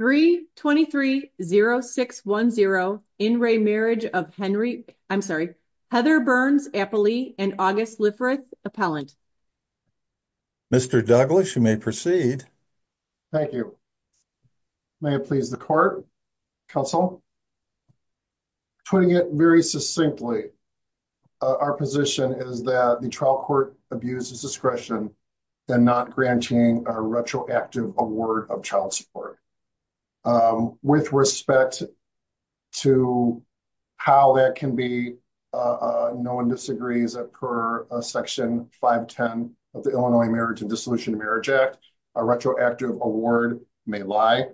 3230610, In re marriage of Henry, I'm sorry, Heather Burns-Appley and August Liffrith-Appellant. Mr. Douglas, you may proceed. Thank you. May it please the court. Counsel, putting it very succinctly, our position is that the trial court abuses discretion and not granting a retroactive award of child support. With respect to how that can be, no one disagrees that per Section 510 of the Illinois Marriage and Dissolution of Marriage Act, a retroactive award may lie.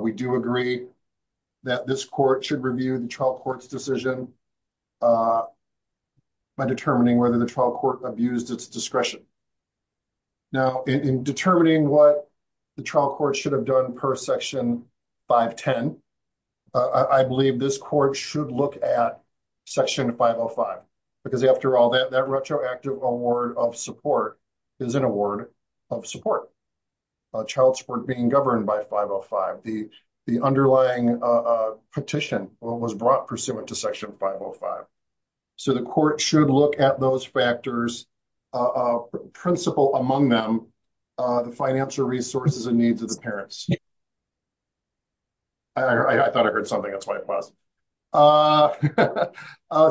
We do agree that this court should review the trial court's decision by determining whether the trial court abused its discretion. Now, in determining what the trial court should have done per Section 510, I believe this court should look at Section 505, because after all, that retroactive award of support is an award of support. Child support being governed by 505, the underlying petition was brought pursuant to 505. So the court should look at those factors, principal among them, the financial resources and needs of the parents. I thought I heard something, that's why I paused.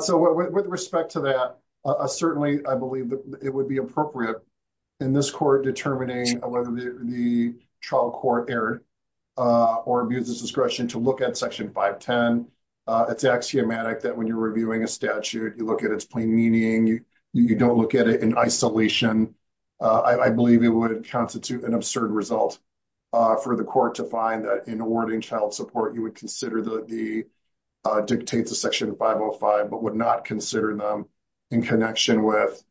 So with respect to that, certainly, I believe that it would be appropriate in this court determining whether the trial court erred or abused its discretion to look at Section 510. It's axiomatic that when you're reviewing a statute, you look at its plain meaning, you don't look at it in isolation. I believe it would constitute an absurd result for the court to find that in awarding child support, you would consider the dictates of Section 505, but would not consider them in connection with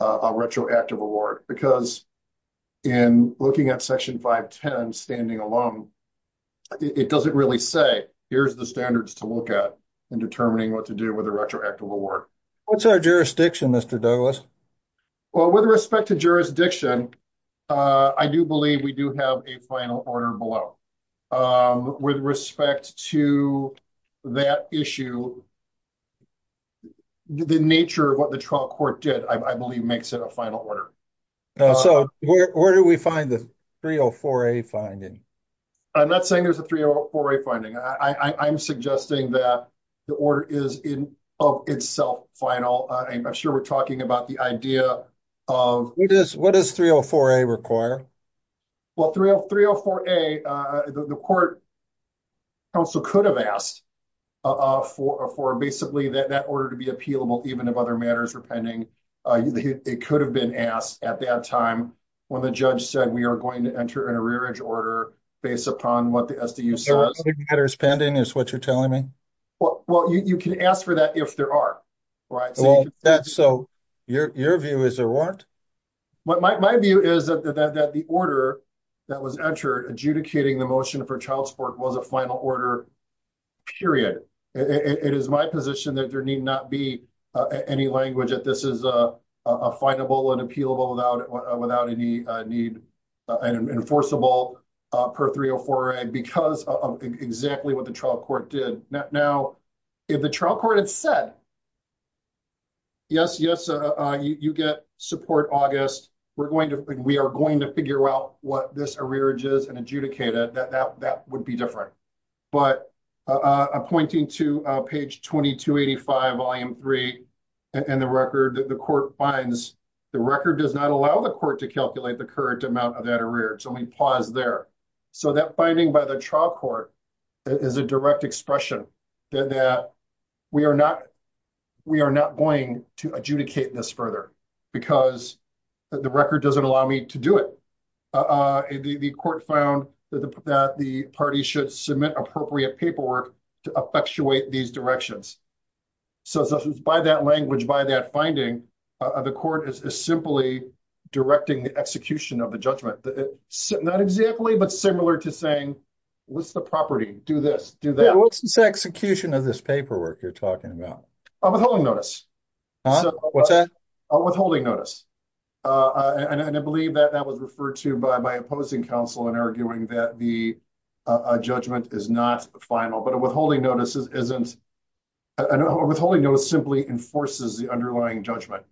a retroactive award. Because in looking at Section 510 standing alone, it doesn't really say, here's the standards to look at in determining what to do with a retroactive award. What's our jurisdiction, Mr. Douglas? Well, with respect to jurisdiction, I do believe we do have a final order below. With respect to that issue, the nature of what the trial court did, I believe, makes it a final order. So where do we find the 304A finding? I'm not saying there's a 304A finding. I am suggesting that the order is in of itself final. I'm sure we're talking about the idea of- What does 304A require? Well, 304A, the court also could have asked for basically that order to be appealable even if other matters were pending. It could have been asked at that time when the judge said we are going to enter in a rear-edge order based upon what the SDU says. Other matters pending is what you're telling me? Well, you can ask for that if there are. So your view is there weren't? My view is that the order that was entered adjudicating the motion for child support was a final order, period. It is my position that there need not be any language that this findable and appealable without any need and enforceable per 304A because of exactly what the trial court did. Now, if the trial court had said, yes, yes, you get support, August. We are going to figure out what this rear-edge is and adjudicate it, that would be different. But I'm pointing to page 2285, volume 3, and the record that the court finds. The record does not allow the court to calculate the current amount of that arrear. So let me pause there. So that finding by the trial court is a direct expression that we are not going to adjudicate this further because the record doesn't allow me to do it. The court found that the party should submit appropriate paperwork to effectuate these directions. So by that language, by that finding, the court is simply directing the execution of the judgment. Not exactly, but similar to saying, what's the property? Do this, do that. What's the execution of this paperwork you're talking about? A withholding notice. What's that? A withholding notice. And I believe that that was referred to by my opposing counsel in arguing that a judgment is not final. But a withholding notice simply enforces the underlying judgment.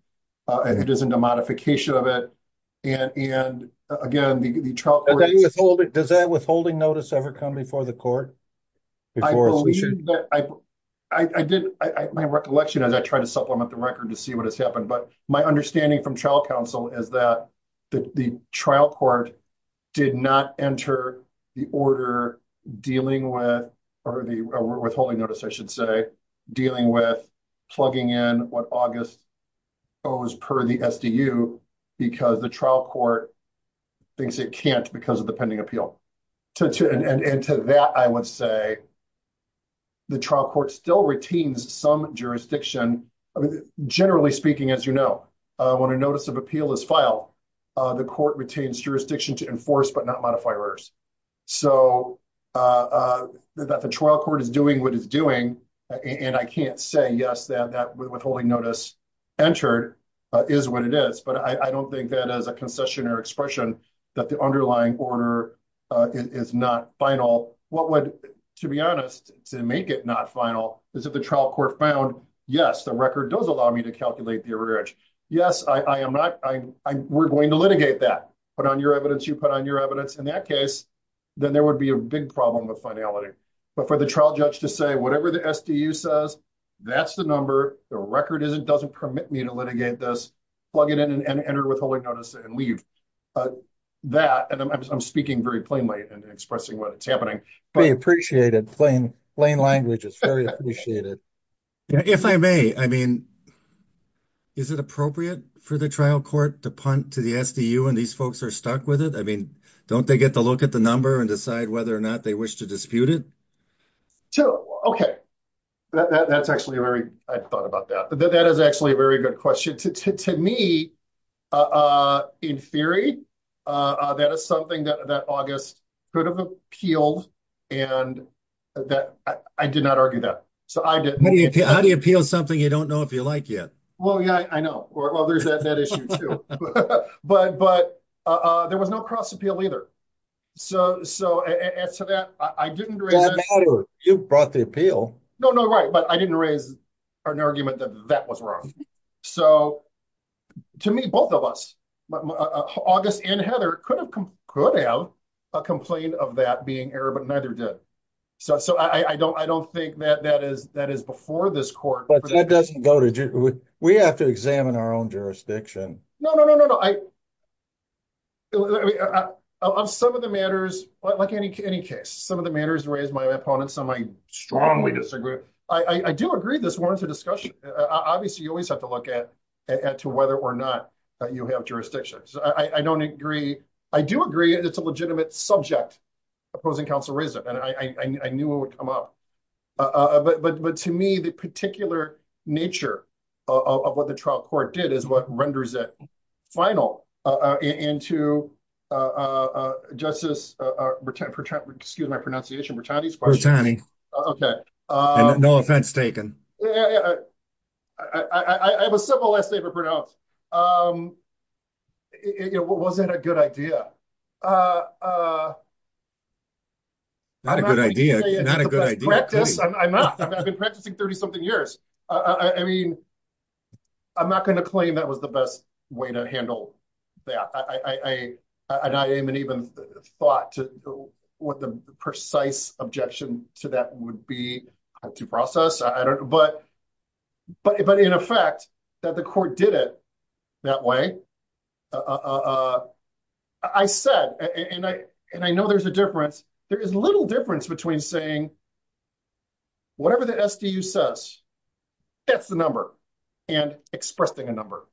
It isn't a modification of it. And again, the trial court- Does that withholding notice ever come before the court? My recollection as I try to supplement the record to see what has happened, but my understanding from trial counsel is that the trial court did not enter the order dealing with, or the withholding notice I should say, dealing with plugging in what August owes per the SDU because the trial court thinks it can't because of the pending appeal. And to that I would say the trial court still retains some jurisdiction. Generally speaking, as you know, when a notice of appeal is filed, the court retains jurisdiction to enforce, but not modify orders. So that the trial court is doing what it's doing, and I can't say, yes, that withholding notice entered is what it is, but I don't think that as a concession or expression that the underlying order is not final. What would, to be honest, to make it not final is if the trial court found, yes, the record does allow me to calculate the yes, I am not, we're going to litigate that, but on your evidence, you put on your evidence in that case, then there would be a big problem with finality. But for the trial judge to say, whatever the SDU says, that's the number, the record doesn't permit me to litigate this, plug it in and enter withholding notice and leave. That, and I'm speaking very plainly and expressing what's happening. We appreciate it. Plain language is very appreciated. If I may, I mean, is it appropriate for the trial court to punt to the SDU when these folks are stuck with it? I mean, don't they get to look at the number and decide whether or not they wish to dispute it? So, okay. That's actually a very, I thought about that, but that is actually a very good question. To me, in theory, that is something that August could have appealed and that I did not argue that. So, I did. How do you appeal something you don't know if you like it? Well, yeah, I know. Well, there's that issue too. But there was no cross appeal either. So, as to that, I didn't raise that. It doesn't matter. You brought the appeal. No, no, right. But I didn't raise an argument that that was wrong. So, to me, both of us, August and Heather could have a complaint of that being error, but neither did. So, I don't think that that is before this court. But that doesn't go to, we have to examine our own jurisdiction. No, no, no, no, no. I mean, on some of the matters, like any case, some of the matters raised by my opponents, some I strongly disagree. I do agree this warrants a discussion. Obviously, you always have to look at to whether or not you have jurisdictions. I don't agree. I do agree it's a legitimate subject opposing counsel reason. And I knew it would come up. But to me, the particular nature of what the trial court did is what renders it final into justice, excuse my pronunciation. No offense taken. I have a simple last name to pronounce. Was that a good idea? Not a good idea. I'm not. I've been practicing 30 something years. I mean, I'm not going to claim that was the best way to handle that. And I haven't even thought what the precise objection to that would be to process. But in effect, that the court did it that way. I said, and I know there's a difference. There is little difference between saying whatever the SDU says, that's the number, and expressing a number,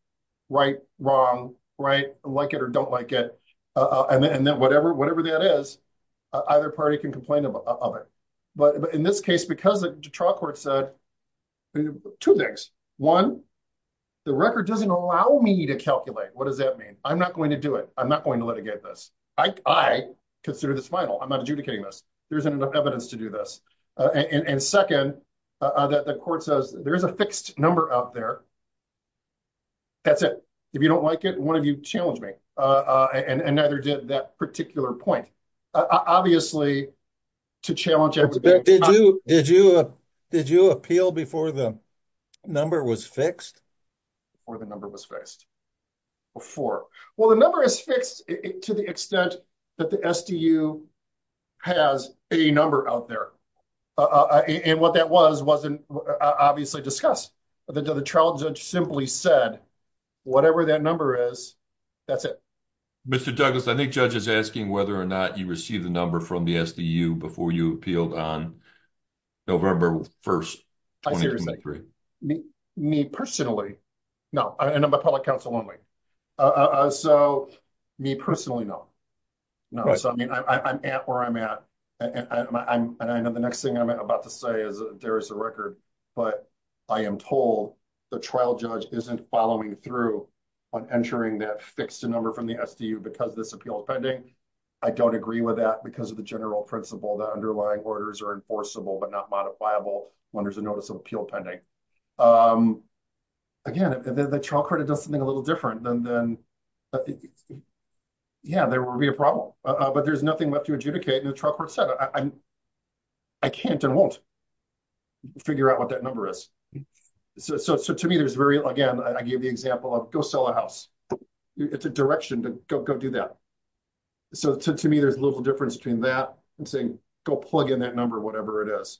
right, wrong, right, like it or don't like it. And then whatever that is, either party can complain about it. But in this case, because the trial court said two things. One, the record doesn't allow me to calculate. What does that mean? I'm not going to do it. I'm not going to litigate this. I consider this final. I'm not adjudicating this. There's enough evidence to do this. And second, that the court says there's a fixed number out there. That's it. If you don't like it, one of you challenge me. And neither did that particular point. Obviously, to challenge everybody. Did you appeal before the number was fixed? Or the number was fixed before? Well, the number is fixed to the extent that the SDU has a number out there. And what that was, wasn't obviously discussed. The trial judge simply said, whatever that number is, that's it. Mr. Douglas, I think judge is asking whether or not you received the number from the SDU before you appealed on November 1st, 2023. Me personally, no. And I'm a public counsel only. So, me personally, no. No. So, I mean, I'm at where I'm at. And I know the next thing I'm about to say is there is a record. But I am told the trial judge isn't following through on entering that fixed number from the SDU because this appeal is pending. I don't agree with that because of the general principle that underlying orders are enforceable but not modifiable when there's a notice of appeal pending. Again, the trial court does something a little different than, yeah, there will be a problem. But there's nothing left to adjudicate. And the trial court said, I can't and won't figure out what that number is. So, to me, there's very, again, I gave the example of go sell a house. It's a direction to go do that. So, to me, there's a little difference between that and saying, go plug in that number, whatever it is.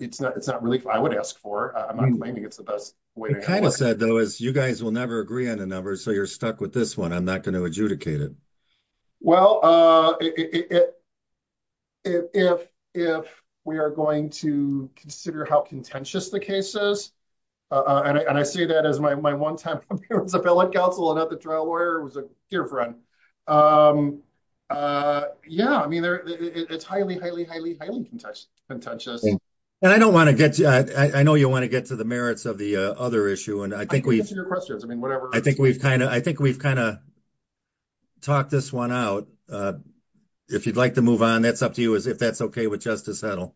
It's not really what I would ask for. I'm not claiming it's the best way. You kind of said, though, is you guys will never agree on a number. So, you're stuck with this one. I'm not going to adjudicate it. Well, if we are going to consider how contentious the case is, and I say that as my one time appellate counsel and not the trial lawyer, it was a dear friend. Yeah, I mean, it's highly, highly, highly, highly contentious. And I don't want to get, I know you want to get to the merits of the other issue. I can answer your questions. I mean, whatever. I think we've kind of talked this one out. If you'd like to move on, that's up to you as if that's okay with Justice Hedl.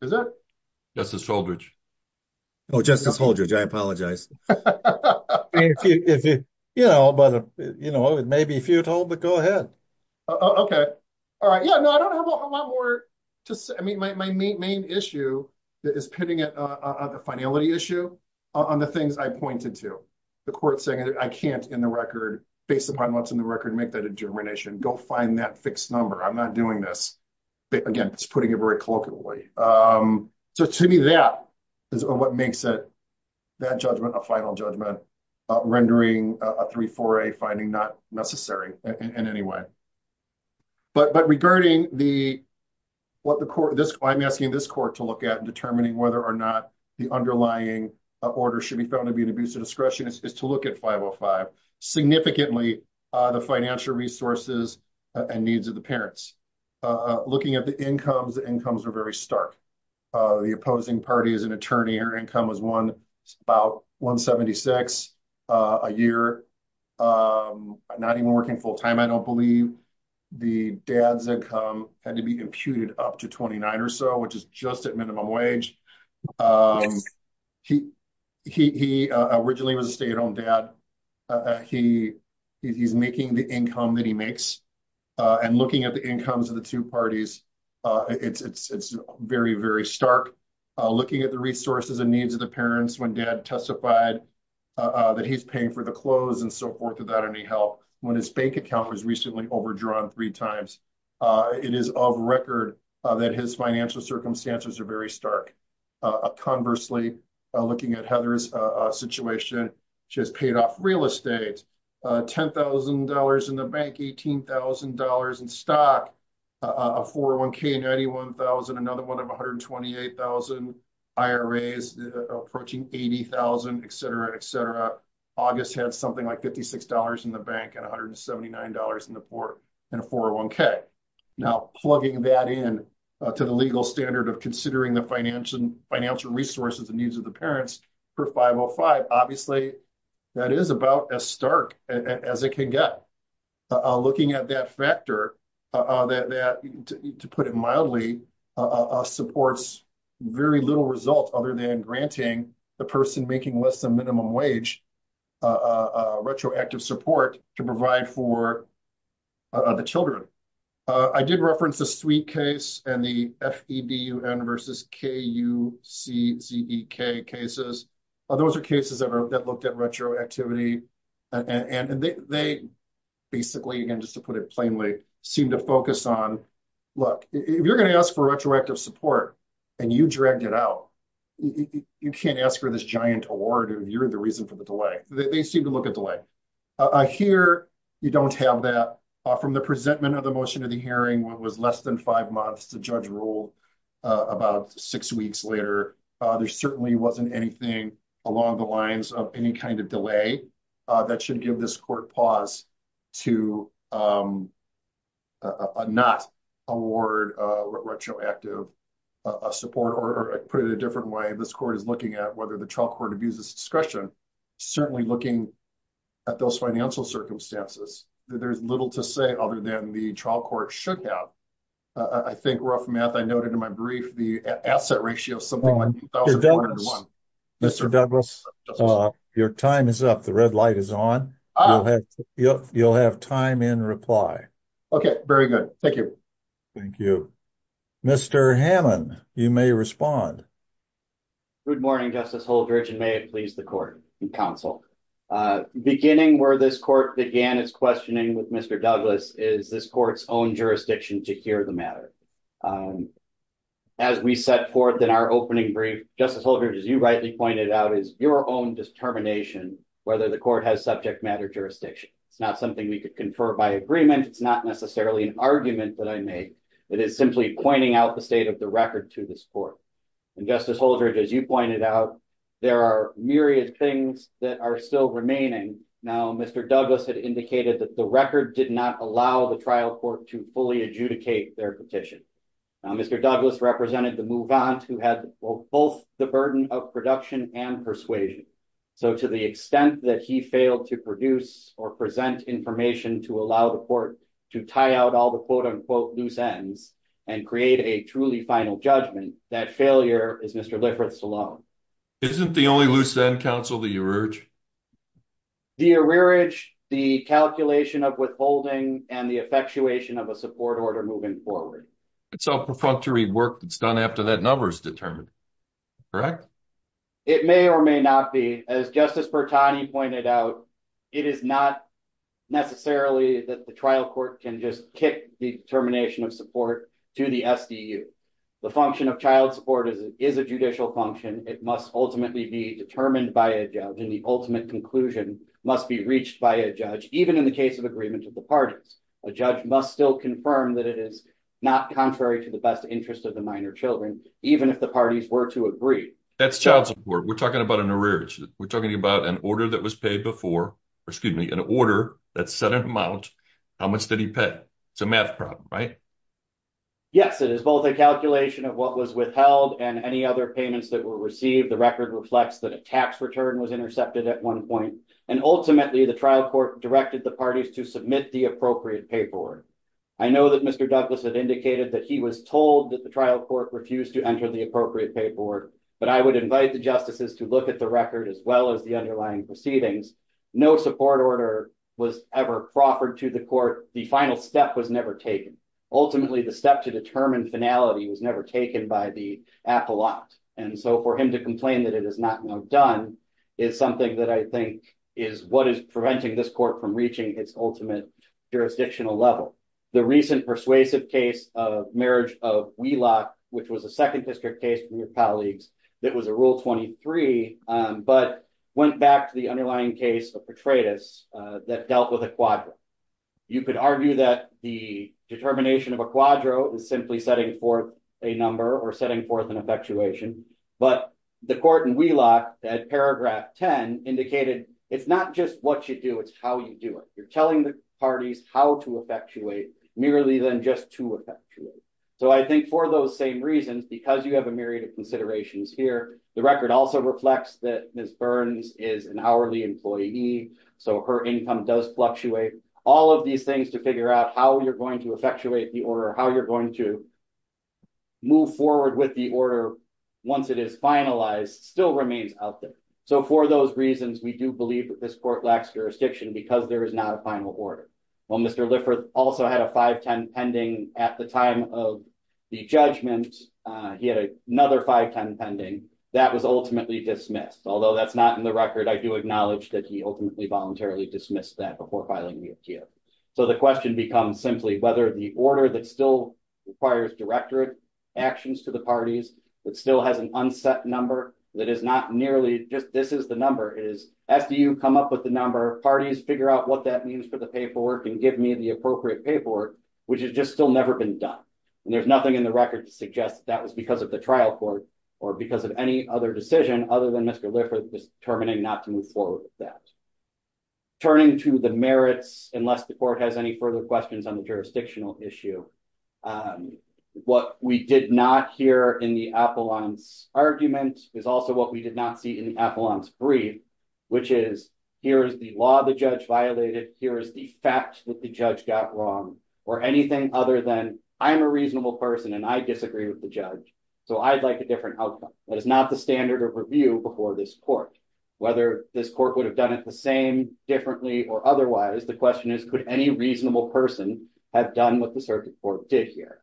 Is it? Justice Holdridge. Oh, Justice Holdridge, I apologize. If you, you know, but, you know, it may be futile, but go ahead. Okay. All right. Yeah, no, I don't have a lot more to say. I mean, my main issue that is pitting it on the finality issue, on the things I pointed to, the court saying, I can't in the record, based upon what's in the record, make that determination, go find that fixed number. I'm not doing this. Again, it's putting it very colloquially. So to me, that is what makes it, that judgment, a final judgment, rendering a 3-4-A finding not necessary in any way. But regarding the, what the court, this, I'm asking this court to look at determining whether or not the underlying order should be found to be an abuse of discretion is to look at 505. Significantly, the financial resources and needs of the parents. Looking at the incomes, the incomes are very stark. The opposing party is an attorney, her income was about $176 a year. Not even working full-time, I don't believe. The dad's income had to be imputed up to $29 or so, which is just at minimum wage. He originally was a stay-at-home dad. He's making the income that he makes. And looking at the incomes of the two parties, it's very, very stark. Looking at the resources and needs of the parents, when dad testified that he's paying for the clothes and so forth without any help, when his bank account was recently overdrawn three times, it is of record that his financial circumstances are very stark. Conversely, looking at Heather's situation, she has paid off real estate, $10,000 in the bank, $18,000 in stock, a 401k, $91,000, another one of 128,000 IRAs, approaching $80,000, et cetera, et cetera. August had something like $56 in the bank and $179 in a 401k. Now, plugging that in to the legal standard of considering the financial resources and needs of the parents for 505, obviously, that is about as stark as it can get. Looking at that factor, that, to put it mildly, supports very little result other than granting the person making less than minimum wage retroactive support to provide for the children. I did reference the suite case and the FEDUN versus KUCZK cases. Those are cases that looked at retroactivity. They basically, again, just to put it plainly, seem to focus on, look, if you're going to ask for retroactive support and you dragged it out, you can't ask for this giant award. You're the reason for the delay. They seem to look at delay. Here, you don't have that. From the presentment of the motion of the hearing, it was less than five months. The judge ruled about six weeks later. There certainly wasn't anything along the lines of any kind of delay that should give this court pause to not award retroactive support or, to put it a different way, this court is looking at whether the trial abuses discretion, certainly looking at those financial circumstances. There's little to say other than the trial court should have. I think, rough math, I noted in my brief the asset ratio is something like $1,401. Mr. Douglas, your time is up. The red light is on. You'll have time in reply. Okay. Very good. Thank you. Thank you. Mr. Hammond, you may respond. Good morning, Justice Holdridge, and may it please the court and counsel. Beginning where this court began its questioning with Mr. Douglas is this court's own jurisdiction to hear the matter. As we set forth in our opening brief, Justice Holdridge, as you rightly pointed out, is your own determination whether the court has subject matter jurisdiction. It's not something we could confer by agreement. It's not necessarily an argument that I made. It is simply pointing out the state of the record to this court. Justice Holdridge, as you pointed out, there are myriad things that are still remaining. Now, Mr. Douglas had indicated that the record did not allow the trial court to fully adjudicate their petition. Mr. Douglas represented the move on to have both the burden of production and persuasion. To the extent that he failed to produce or present information to allow the court to tie out all the quote-unquote loose ends and create a truly final judgment, that failure is Mr. Liffert's alone. Isn't the only loose end, counsel, the arrearage? The arrearage, the calculation of withholding, and the effectuation of a support order moving forward. It's all perfunctory work that's done after that number is determined, correct? It may or may not be. As Justice Bertani pointed out, it is not necessarily that the trial court can just kick the determination of support to the SDU. The function of child support is a judicial function. It must ultimately be determined by a judge, and the ultimate conclusion must be reached by a judge, even in the case of agreement of the parties. A judge must still confirm that it is not contrary to the best interest of the minor children, even if the parties were to agree. That's child support. We're talking about an arrearage. We're talking about an order that was paid before, excuse me, an order that set an amount, how much did he pay? It's a math problem, right? Yes, it is both a calculation of what was withheld and any other payments that were received. The record reflects that a tax return was intercepted at one point, and ultimately, the trial court directed the parties to submit the appropriate pay board. I know that Mr. Douglas had indicated that he was told that the trial court refused to enter the appropriate pay board, but I would invite the justices to look at the record as well as the underlying proceedings. No support order was ever proffered to the court. The final step was never taken. Ultimately, the step to determine finality was never taken by the appellate, and so for him to complain that it is not now done is something that I think is what is preventing this court from reaching its ultimate jurisdictional level. The recent persuasive case of marriage of Wheelock, which was a second district case from your colleagues that was a Rule 23, but went back to the underlying case of Petraeus that dealt with a quadro. You could argue that the determination of a quadro is simply setting forth a number or setting forth an effectuation, but the court at paragraph 10 indicated it's not just what you do, it's how you do it. You're telling the parties how to effectuate, merely than just to effectuate. So I think for those same reasons, because you have a myriad of considerations here, the record also reflects that Ms. Burns is an hourly employee, so her income does fluctuate. All of these things to figure out how you're going to effectuate the order, how you're going to move forward with the order once it is finalized still remains out there. So for those reasons, we do believe that this court lacks jurisdiction because there is not a final order. While Mr. Lifford also had a 510 pending at the time of the judgment, he had another 510 pending, that was ultimately dismissed. Although that's not in the record, I do acknowledge that he ultimately voluntarily dismissed that before filing the FTO. So the question becomes simply whether the order that requires directorate actions to the parties, that still has an unset number, that is not nearly just this is the number, it is after you come up with the number, parties figure out what that means for the paperwork and give me the appropriate paperwork, which has just still never been done. There's nothing in the record to suggest that was because of the trial court or because of any other decision other than Mr. Lifford determining not to move forward with that. Turning to the merits, unless the court has any further questions on the jurisdictional issue, what we did not hear in the appellant's argument is also what we did not see in the appellant's brief, which is here is the law the judge violated, here is the fact that the judge got wrong, or anything other than I'm a reasonable person and I disagree with the judge, so I'd like a different outcome. That is not the standard of review before this court. Whether this court would have done it the same, differently, or otherwise, the question is could any reasonable person have done what the circuit court did here?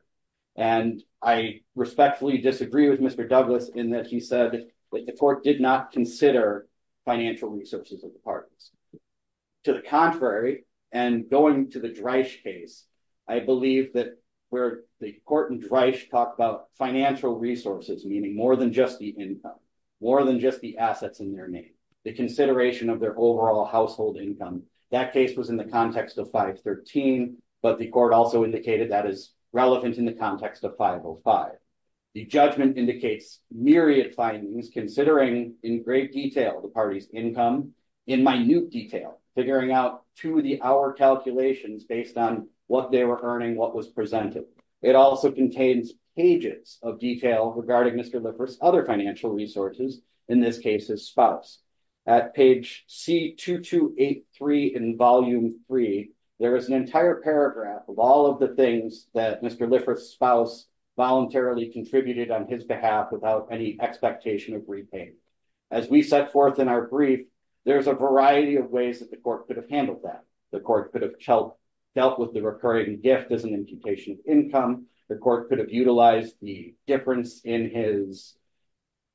And I respectfully disagree with Mr. Douglas in that he said that the court did not consider financial resources of the parties. To the contrary, and going to the Dreisch case, I believe that where the court in Dreisch talked about financial resources, meaning more than just income, more than just the assets in their name, the consideration of their overall household income, that case was in the context of 513, but the court also indicated that is relevant in the context of 505. The judgment indicates myriad findings considering in great detail the party's income, in minute detail, figuring out to the hour calculations based on what they were earning, what was presented. It also contains pages of detail regarding Mr. Liffert's other financial resources, in this case his spouse. At page C2283 in volume 3, there is an entire paragraph of all of the things that Mr. Liffert's spouse voluntarily contributed on his behalf without any expectation of repayment. As we set forth in our brief, there's a variety of ways that the court could have handled that. The court could have dealt with the recurring gift as an imputation of income. The court could have utilized the difference in his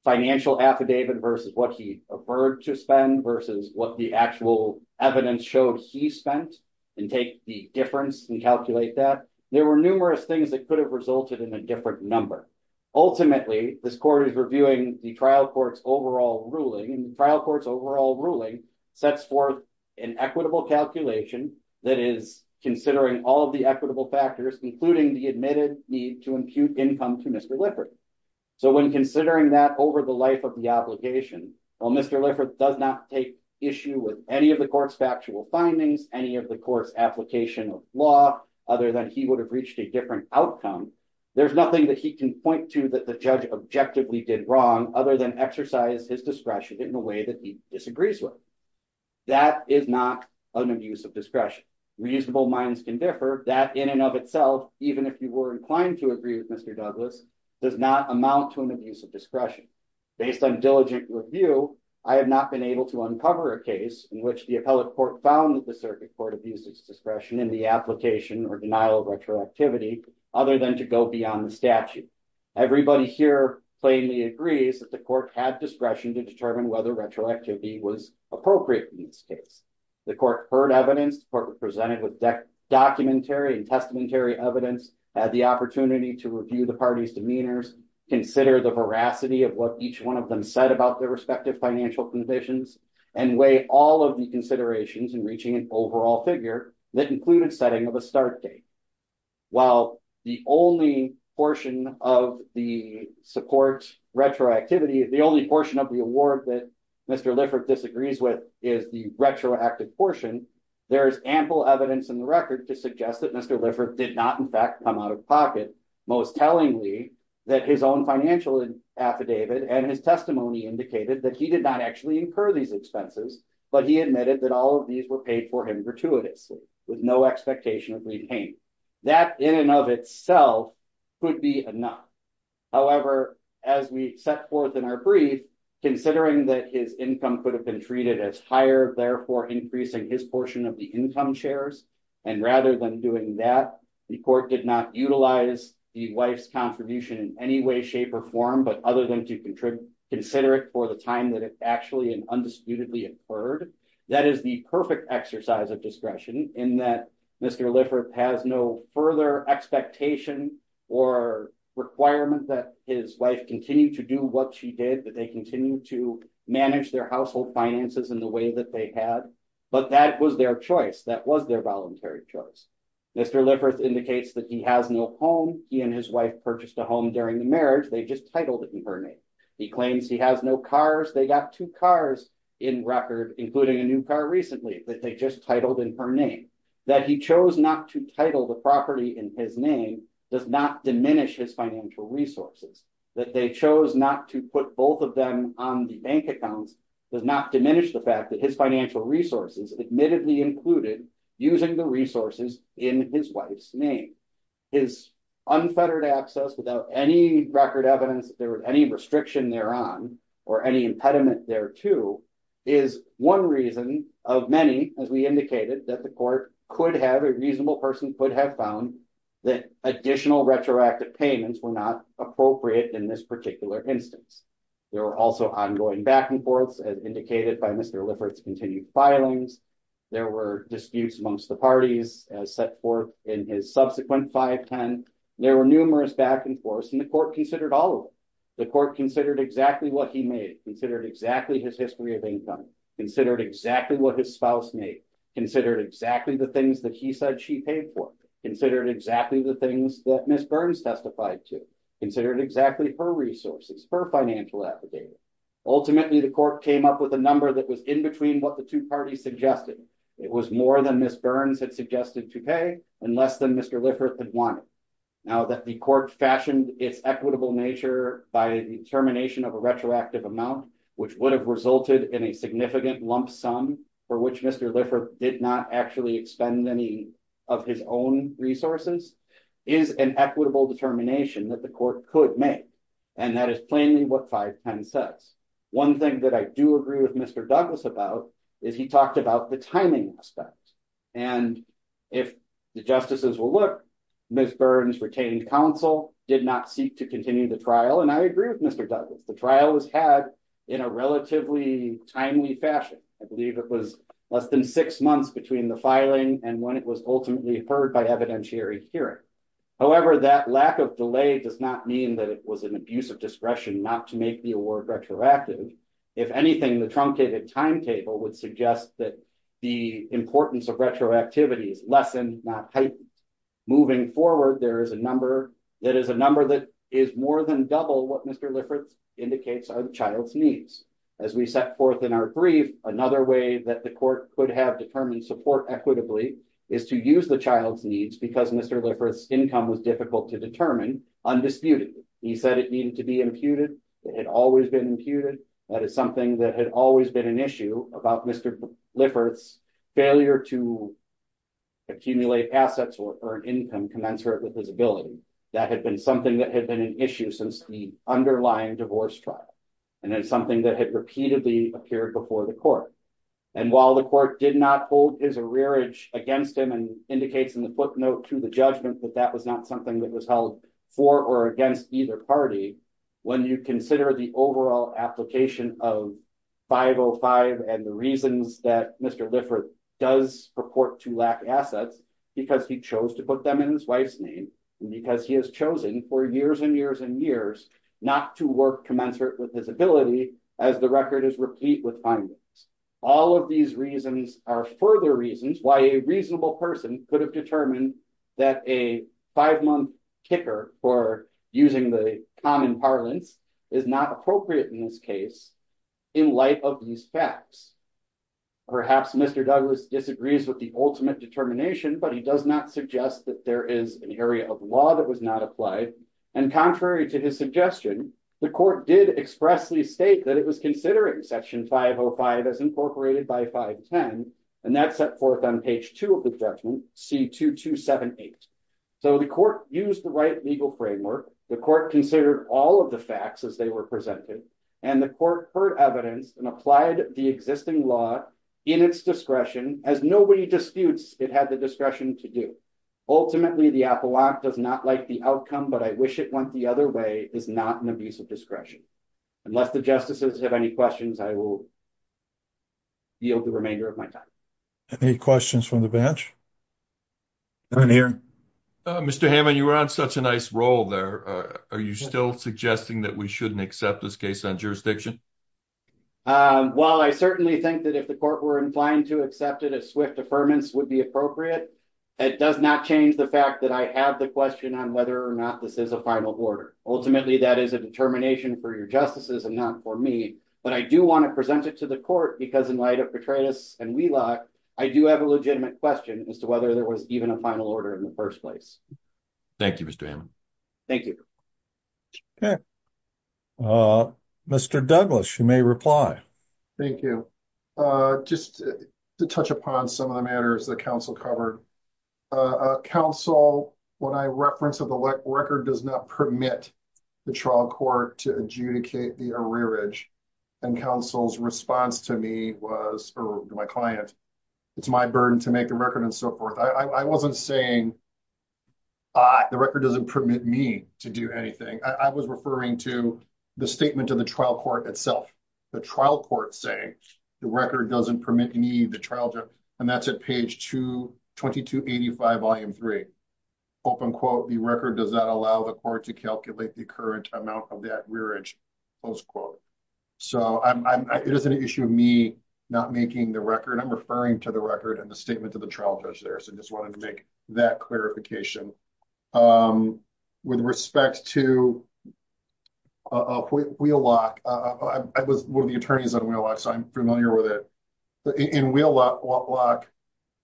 financial affidavit versus what he preferred to spend versus what the actual evidence showed he spent and take the difference and calculate that. There were numerous things that could have resulted in a different number. Ultimately, this court is reviewing the trial court's overall ruling, and the trial court's ruling sets forth an equitable calculation that is considering all of the equitable factors, including the admitted need to impute income to Mr. Liffert. When considering that over the life of the application, while Mr. Liffert does not take issue with any of the court's factual findings, any of the court's application of law, other than he would have reached a different outcome, there's nothing that he can point to that the judge objectively did wrong other than exercise his discretion in a way that he disagrees with. That is not an abuse of discretion. Reasonable minds can differ. That in and of itself, even if you were inclined to agree with Mr. Douglas, does not amount to an abuse of discretion. Based on diligent review, I have not been able to uncover a case in which the appellate court found that the circuit court abused its discretion in the application or denial of retroactivity, other than to go beyond the statute. Everybody here plainly agrees that the court had discretion to determine whether retroactivity was appropriate in this case. The court heard evidence, the court presented with documentary and testamentary evidence, had the opportunity to review the party's demeanors, consider the veracity of what each one of them said about their respective financial conditions, and weigh all of the considerations in reaching an overall figure that included setting of a start date. While the only portion of the support retroactivity, the only portion of the award that Mr. Lifford disagrees with is the retroactive portion, there is ample evidence in the record to suggest that Mr. Lifford did not in fact come out of pocket, most tellingly that his own financial affidavit and his testimony indicated that he did not actually incur these expenses, but he admitted that all of these were for him gratuitously, with no expectation of repayment. That in and of itself could be enough. However, as we set forth in our brief, considering that his income could have been treated as higher, therefore increasing his portion of the income shares, and rather than doing that, the court did not utilize the wife's contribution in any way, shape, or form, but other than to consider it for the time that it actually and undisputedly incurred, that is the perfect exercise of discretion in that Mr. Lifford has no further expectation or requirement that his wife continue to do what she did, that they continue to manage their household finances in the way that they had, but that was their choice, that was their voluntary choice. Mr. Lifford indicates that he has no home, he and his wife purchased a home during the marriage, they just titled it in her name. He claims he has no cars, they got two cars in record, including a new car recently that they just titled in her name. That he chose not to title the property in his name does not diminish his financial resources. That they chose not to put both of them on the bank accounts does not diminish the fact that his financial resources admittedly included using the resources in his wife's name. His unfettered access without any record evidence there was any restriction thereon or any impediment thereto is one reason of many, as we indicated, that the court could have a reasonable person could have found that additional retroactive payments were not appropriate in this particular instance. There were also ongoing back and forths as indicated by Mr. Lifford's continued filings. There were disputes amongst the parties as set forth in his subsequent 510. There were numerous back and forths and the court considered all of them. The court considered exactly what he made, considered exactly his history of income, considered exactly what his spouse made, considered exactly the things that he said she paid for, considered exactly the things that Ms. Burns testified to, considered exactly her resources, her financial affidavit. Ultimately, the court came up with a number that was in between what the two parties suggested. It was more than Ms. Burns had suggested to pay and less than Mr. Lifford had wanted. Now that the court fashioned its equitable nature by the determination of a retroactive amount which would have resulted in a significant lump sum for which Mr. Lifford did not actually expend any of his own resources is an equitable determination that the court could make and that is plainly what 510 says. One thing that I do agree with Mr. Douglas about is he talked about the timing aspect and if the justices will look, Ms. Burns retained counsel, did not seek to continue the trial and I agree with Mr. Douglas. The trial was had in a relatively timely fashion. I believe it was less than six months between the filing and when it was ultimately heard by evidentiary hearing. However, that lack of delay does not mean that it was an abuse of discretion not to make the work retroactive. If anything, the truncated timetable would suggest that the importance of retroactivity is lessened not heightened. Moving forward, there is a number that is a number that is more than double what Mr. Lifford indicates are the child's needs. As we set forth in our brief, another way that the court could have determined support equitably is to use the child's needs because Mr. Lifford's income was difficult to determine undisputedly. He said it needed to be imputed. It had always been imputed. That is something that had always been an issue about Mr. Lifford's failure to accumulate assets or earn income commensurate with his ability. That had been something that had been an issue since the underlying divorce trial and then something that had repeatedly appeared before the court. And while the court did not hold his arrearage against him and indicates in the footnote to the judgment that that was not something that was held for or against either party, when you consider the overall application of 505 and the reasons that Mr. Lifford does purport to lack assets because he chose to put them in his wife's name and because he has chosen for years and years and years not to work commensurate with his ability as the record is replete with findings. All of these reasons are further reasons why a reasonable person could have determined that a five-month kicker for using the common parlance is not appropriate in this case in light of these facts. Perhaps Mr. Douglas disagrees with the ultimate determination but he does not suggest that there is an area of law that was not applied. And contrary to his suggestion, the court did expressly state that it was considering section 505 as incorporated by 510 and that set forth on page 2 of the judgment, C-2278. So the court used the right legal framework, the court considered all of the facts as they were presented, and the court heard evidence and applied the existing law in its discretion as nobody disputes it had the discretion to do. Ultimately the Apollo Act does not like the outcome but I wish it went the other way is not an abuse of discretion. Unless the justices have any questions I will yield the remainder of my time. Any questions from the bench? Mr. Hammond you were on such a nice roll there. Are you still suggesting that we shouldn't accept this case on jurisdiction? Well I certainly think that if the court were inclined to accept it as swift deferments would be appropriate. It does not change the fact that I have the question on whether or not this is a final order. Ultimately that is a determination for your justices and not for me but I do want to present it to the court because in light of Petraeus and Wheelock I do have a legitimate question as to whether there was even a final order in the first place. Thank you Mr. Hammond. Thank you. Mr. Douglas you may reply. Thank you. Just to touch upon some of the matters the council covered. Council when I reference of the record does not permit the trial court to adjudicate the arrearage and council's response to me was or my client it's my burden to make the record and so forth. I wasn't saying the record doesn't permit me to do anything. I was referring to the statement of the trial court itself. The trial court saying the record doesn't permit me the trial judge and that's at page 2282 volume 3. Open quote the record does not allow the court to calculate the current amount of that rearage close quote. So it is an issue of me not making the record. I'm referring to the record and the statement of the trial judge there so just wanted to make that clarification. With respect to Wheelock I was one of the attorneys on Wheelock so I'm familiar with it. In Wheelock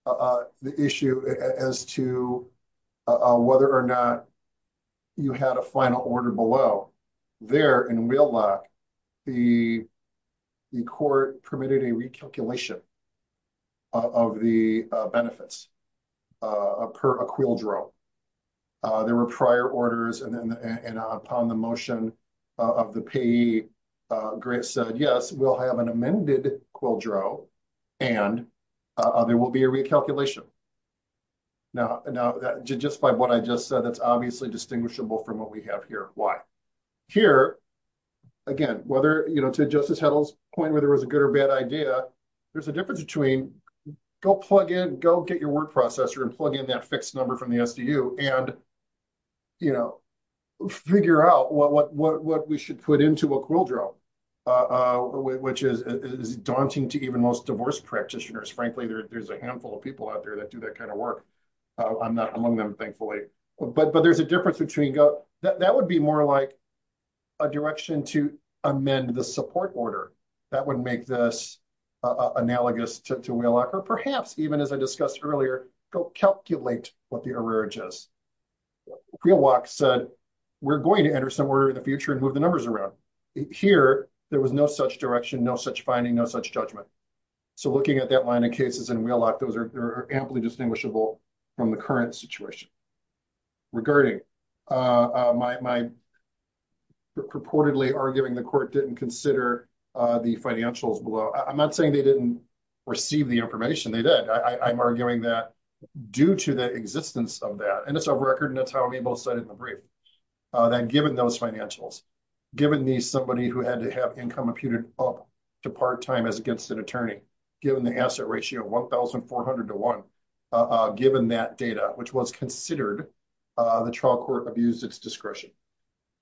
the issue as to whether or not you had a final order below. There in Wheelock the court permitted a recalculation of the benefits per a quildro. There were prior orders and upon the motion of the payee Grace said yes we'll have an amended quildro and there will be a recalculation. Now to justify what I just said that's obviously distinguishable from what we have here. Why? Here again whether you know to Justice Heddle's point whether it was a good or bad idea there's a difference between go plug in go get your word processor and plug in that fixed number from the SDU and you know figure out what we should put into a quildro which is daunting to even most divorce practitioners. Frankly there's a handful of people out there that do that kind of work. I'm not among them thankfully but there's a difference between go that would be more like a direction to amend the support order. That would make this analogous to Wheelock or perhaps even as I discussed earlier go calculate what the error is. Wheelock said we're going to enter somewhere in the future and move the numbers around. Here there was no such finding no such judgment. So looking at that line of cases in Wheelock those are amply distinguishable from the current situation. Regarding my purportedly arguing the court didn't consider the financials below I'm not saying they didn't receive the information they did. I'm arguing that due to the existence of that and it's a record and that's how we both said it in the part-time as against an attorney given the asset ratio of 1,400 to one given that data which was considered the trial court abused its discretion.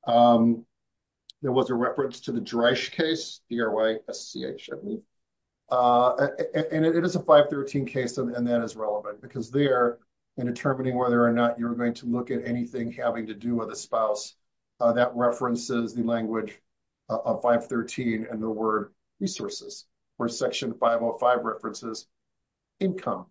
There was a reference to the Dreisch case and it is a 513 case and that is relevant because they're in determining whether or not you're going to look at anything having to do with a spouse that references the language of 513 and the word resources or section 505 references income.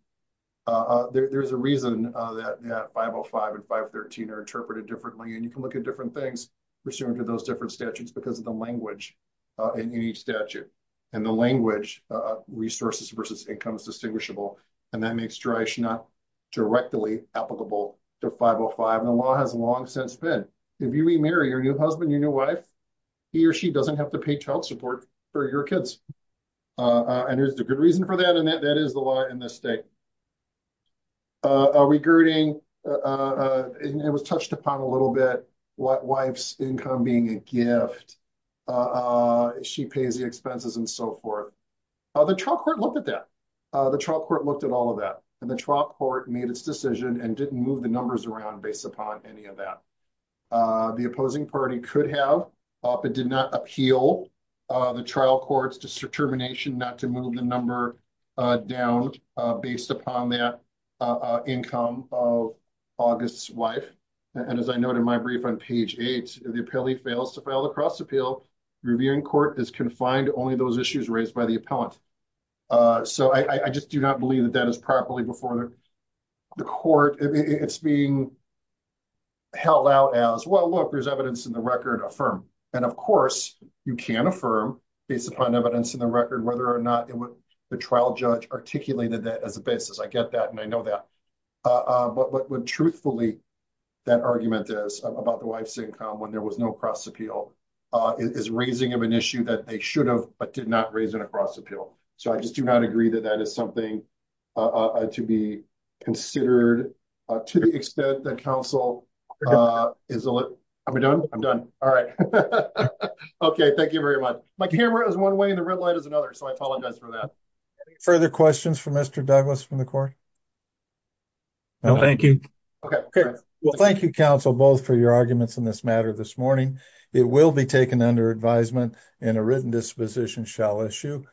There's a reason that 505 and 513 are interpreted differently and you can look at different things pursuant to those different statutes because of the language in each statute and the language resources versus income is distinguishable and that makes Dreisch not directly applicable to 505 and the law has long since been if you remarry your new husband your new wife he or she doesn't have to pay child support for your kids and there's a good reason for that and that that is the law in this state. Regarding it was touched upon a little bit what wife's income being a gift she pays the expenses and so forth. The trial court looked at that the trial court looked at all of that and the trial made its decision and didn't move the numbers around based upon any of that. The opposing party could have but did not appeal the trial court's determination not to move the number down based upon that income of August's wife and as I noted in my brief on page eight if the appellee fails to file the cross appeal the reviewing court is confined to only those issues raised by the court it's being held out as well look there's evidence in the record affirm and of course you can affirm based upon evidence in the record whether or not it would the trial judge articulated that as a basis I get that and I know that but what would truthfully that argument is about the wife's income when there was no cross appeal is raising of an issue that they should have but did not raise it across appeal so I just do not agree that that is something to be considered uh to the extent that council uh is a look I'm done I'm done all right okay thank you very much my camera is one way and the red light is another so I apologize for that further questions for Mr. Douglas from the court no thank you okay well thank you counsel both for your arguments in this matter this morning it will be taken under advisement and a written disposition shall issue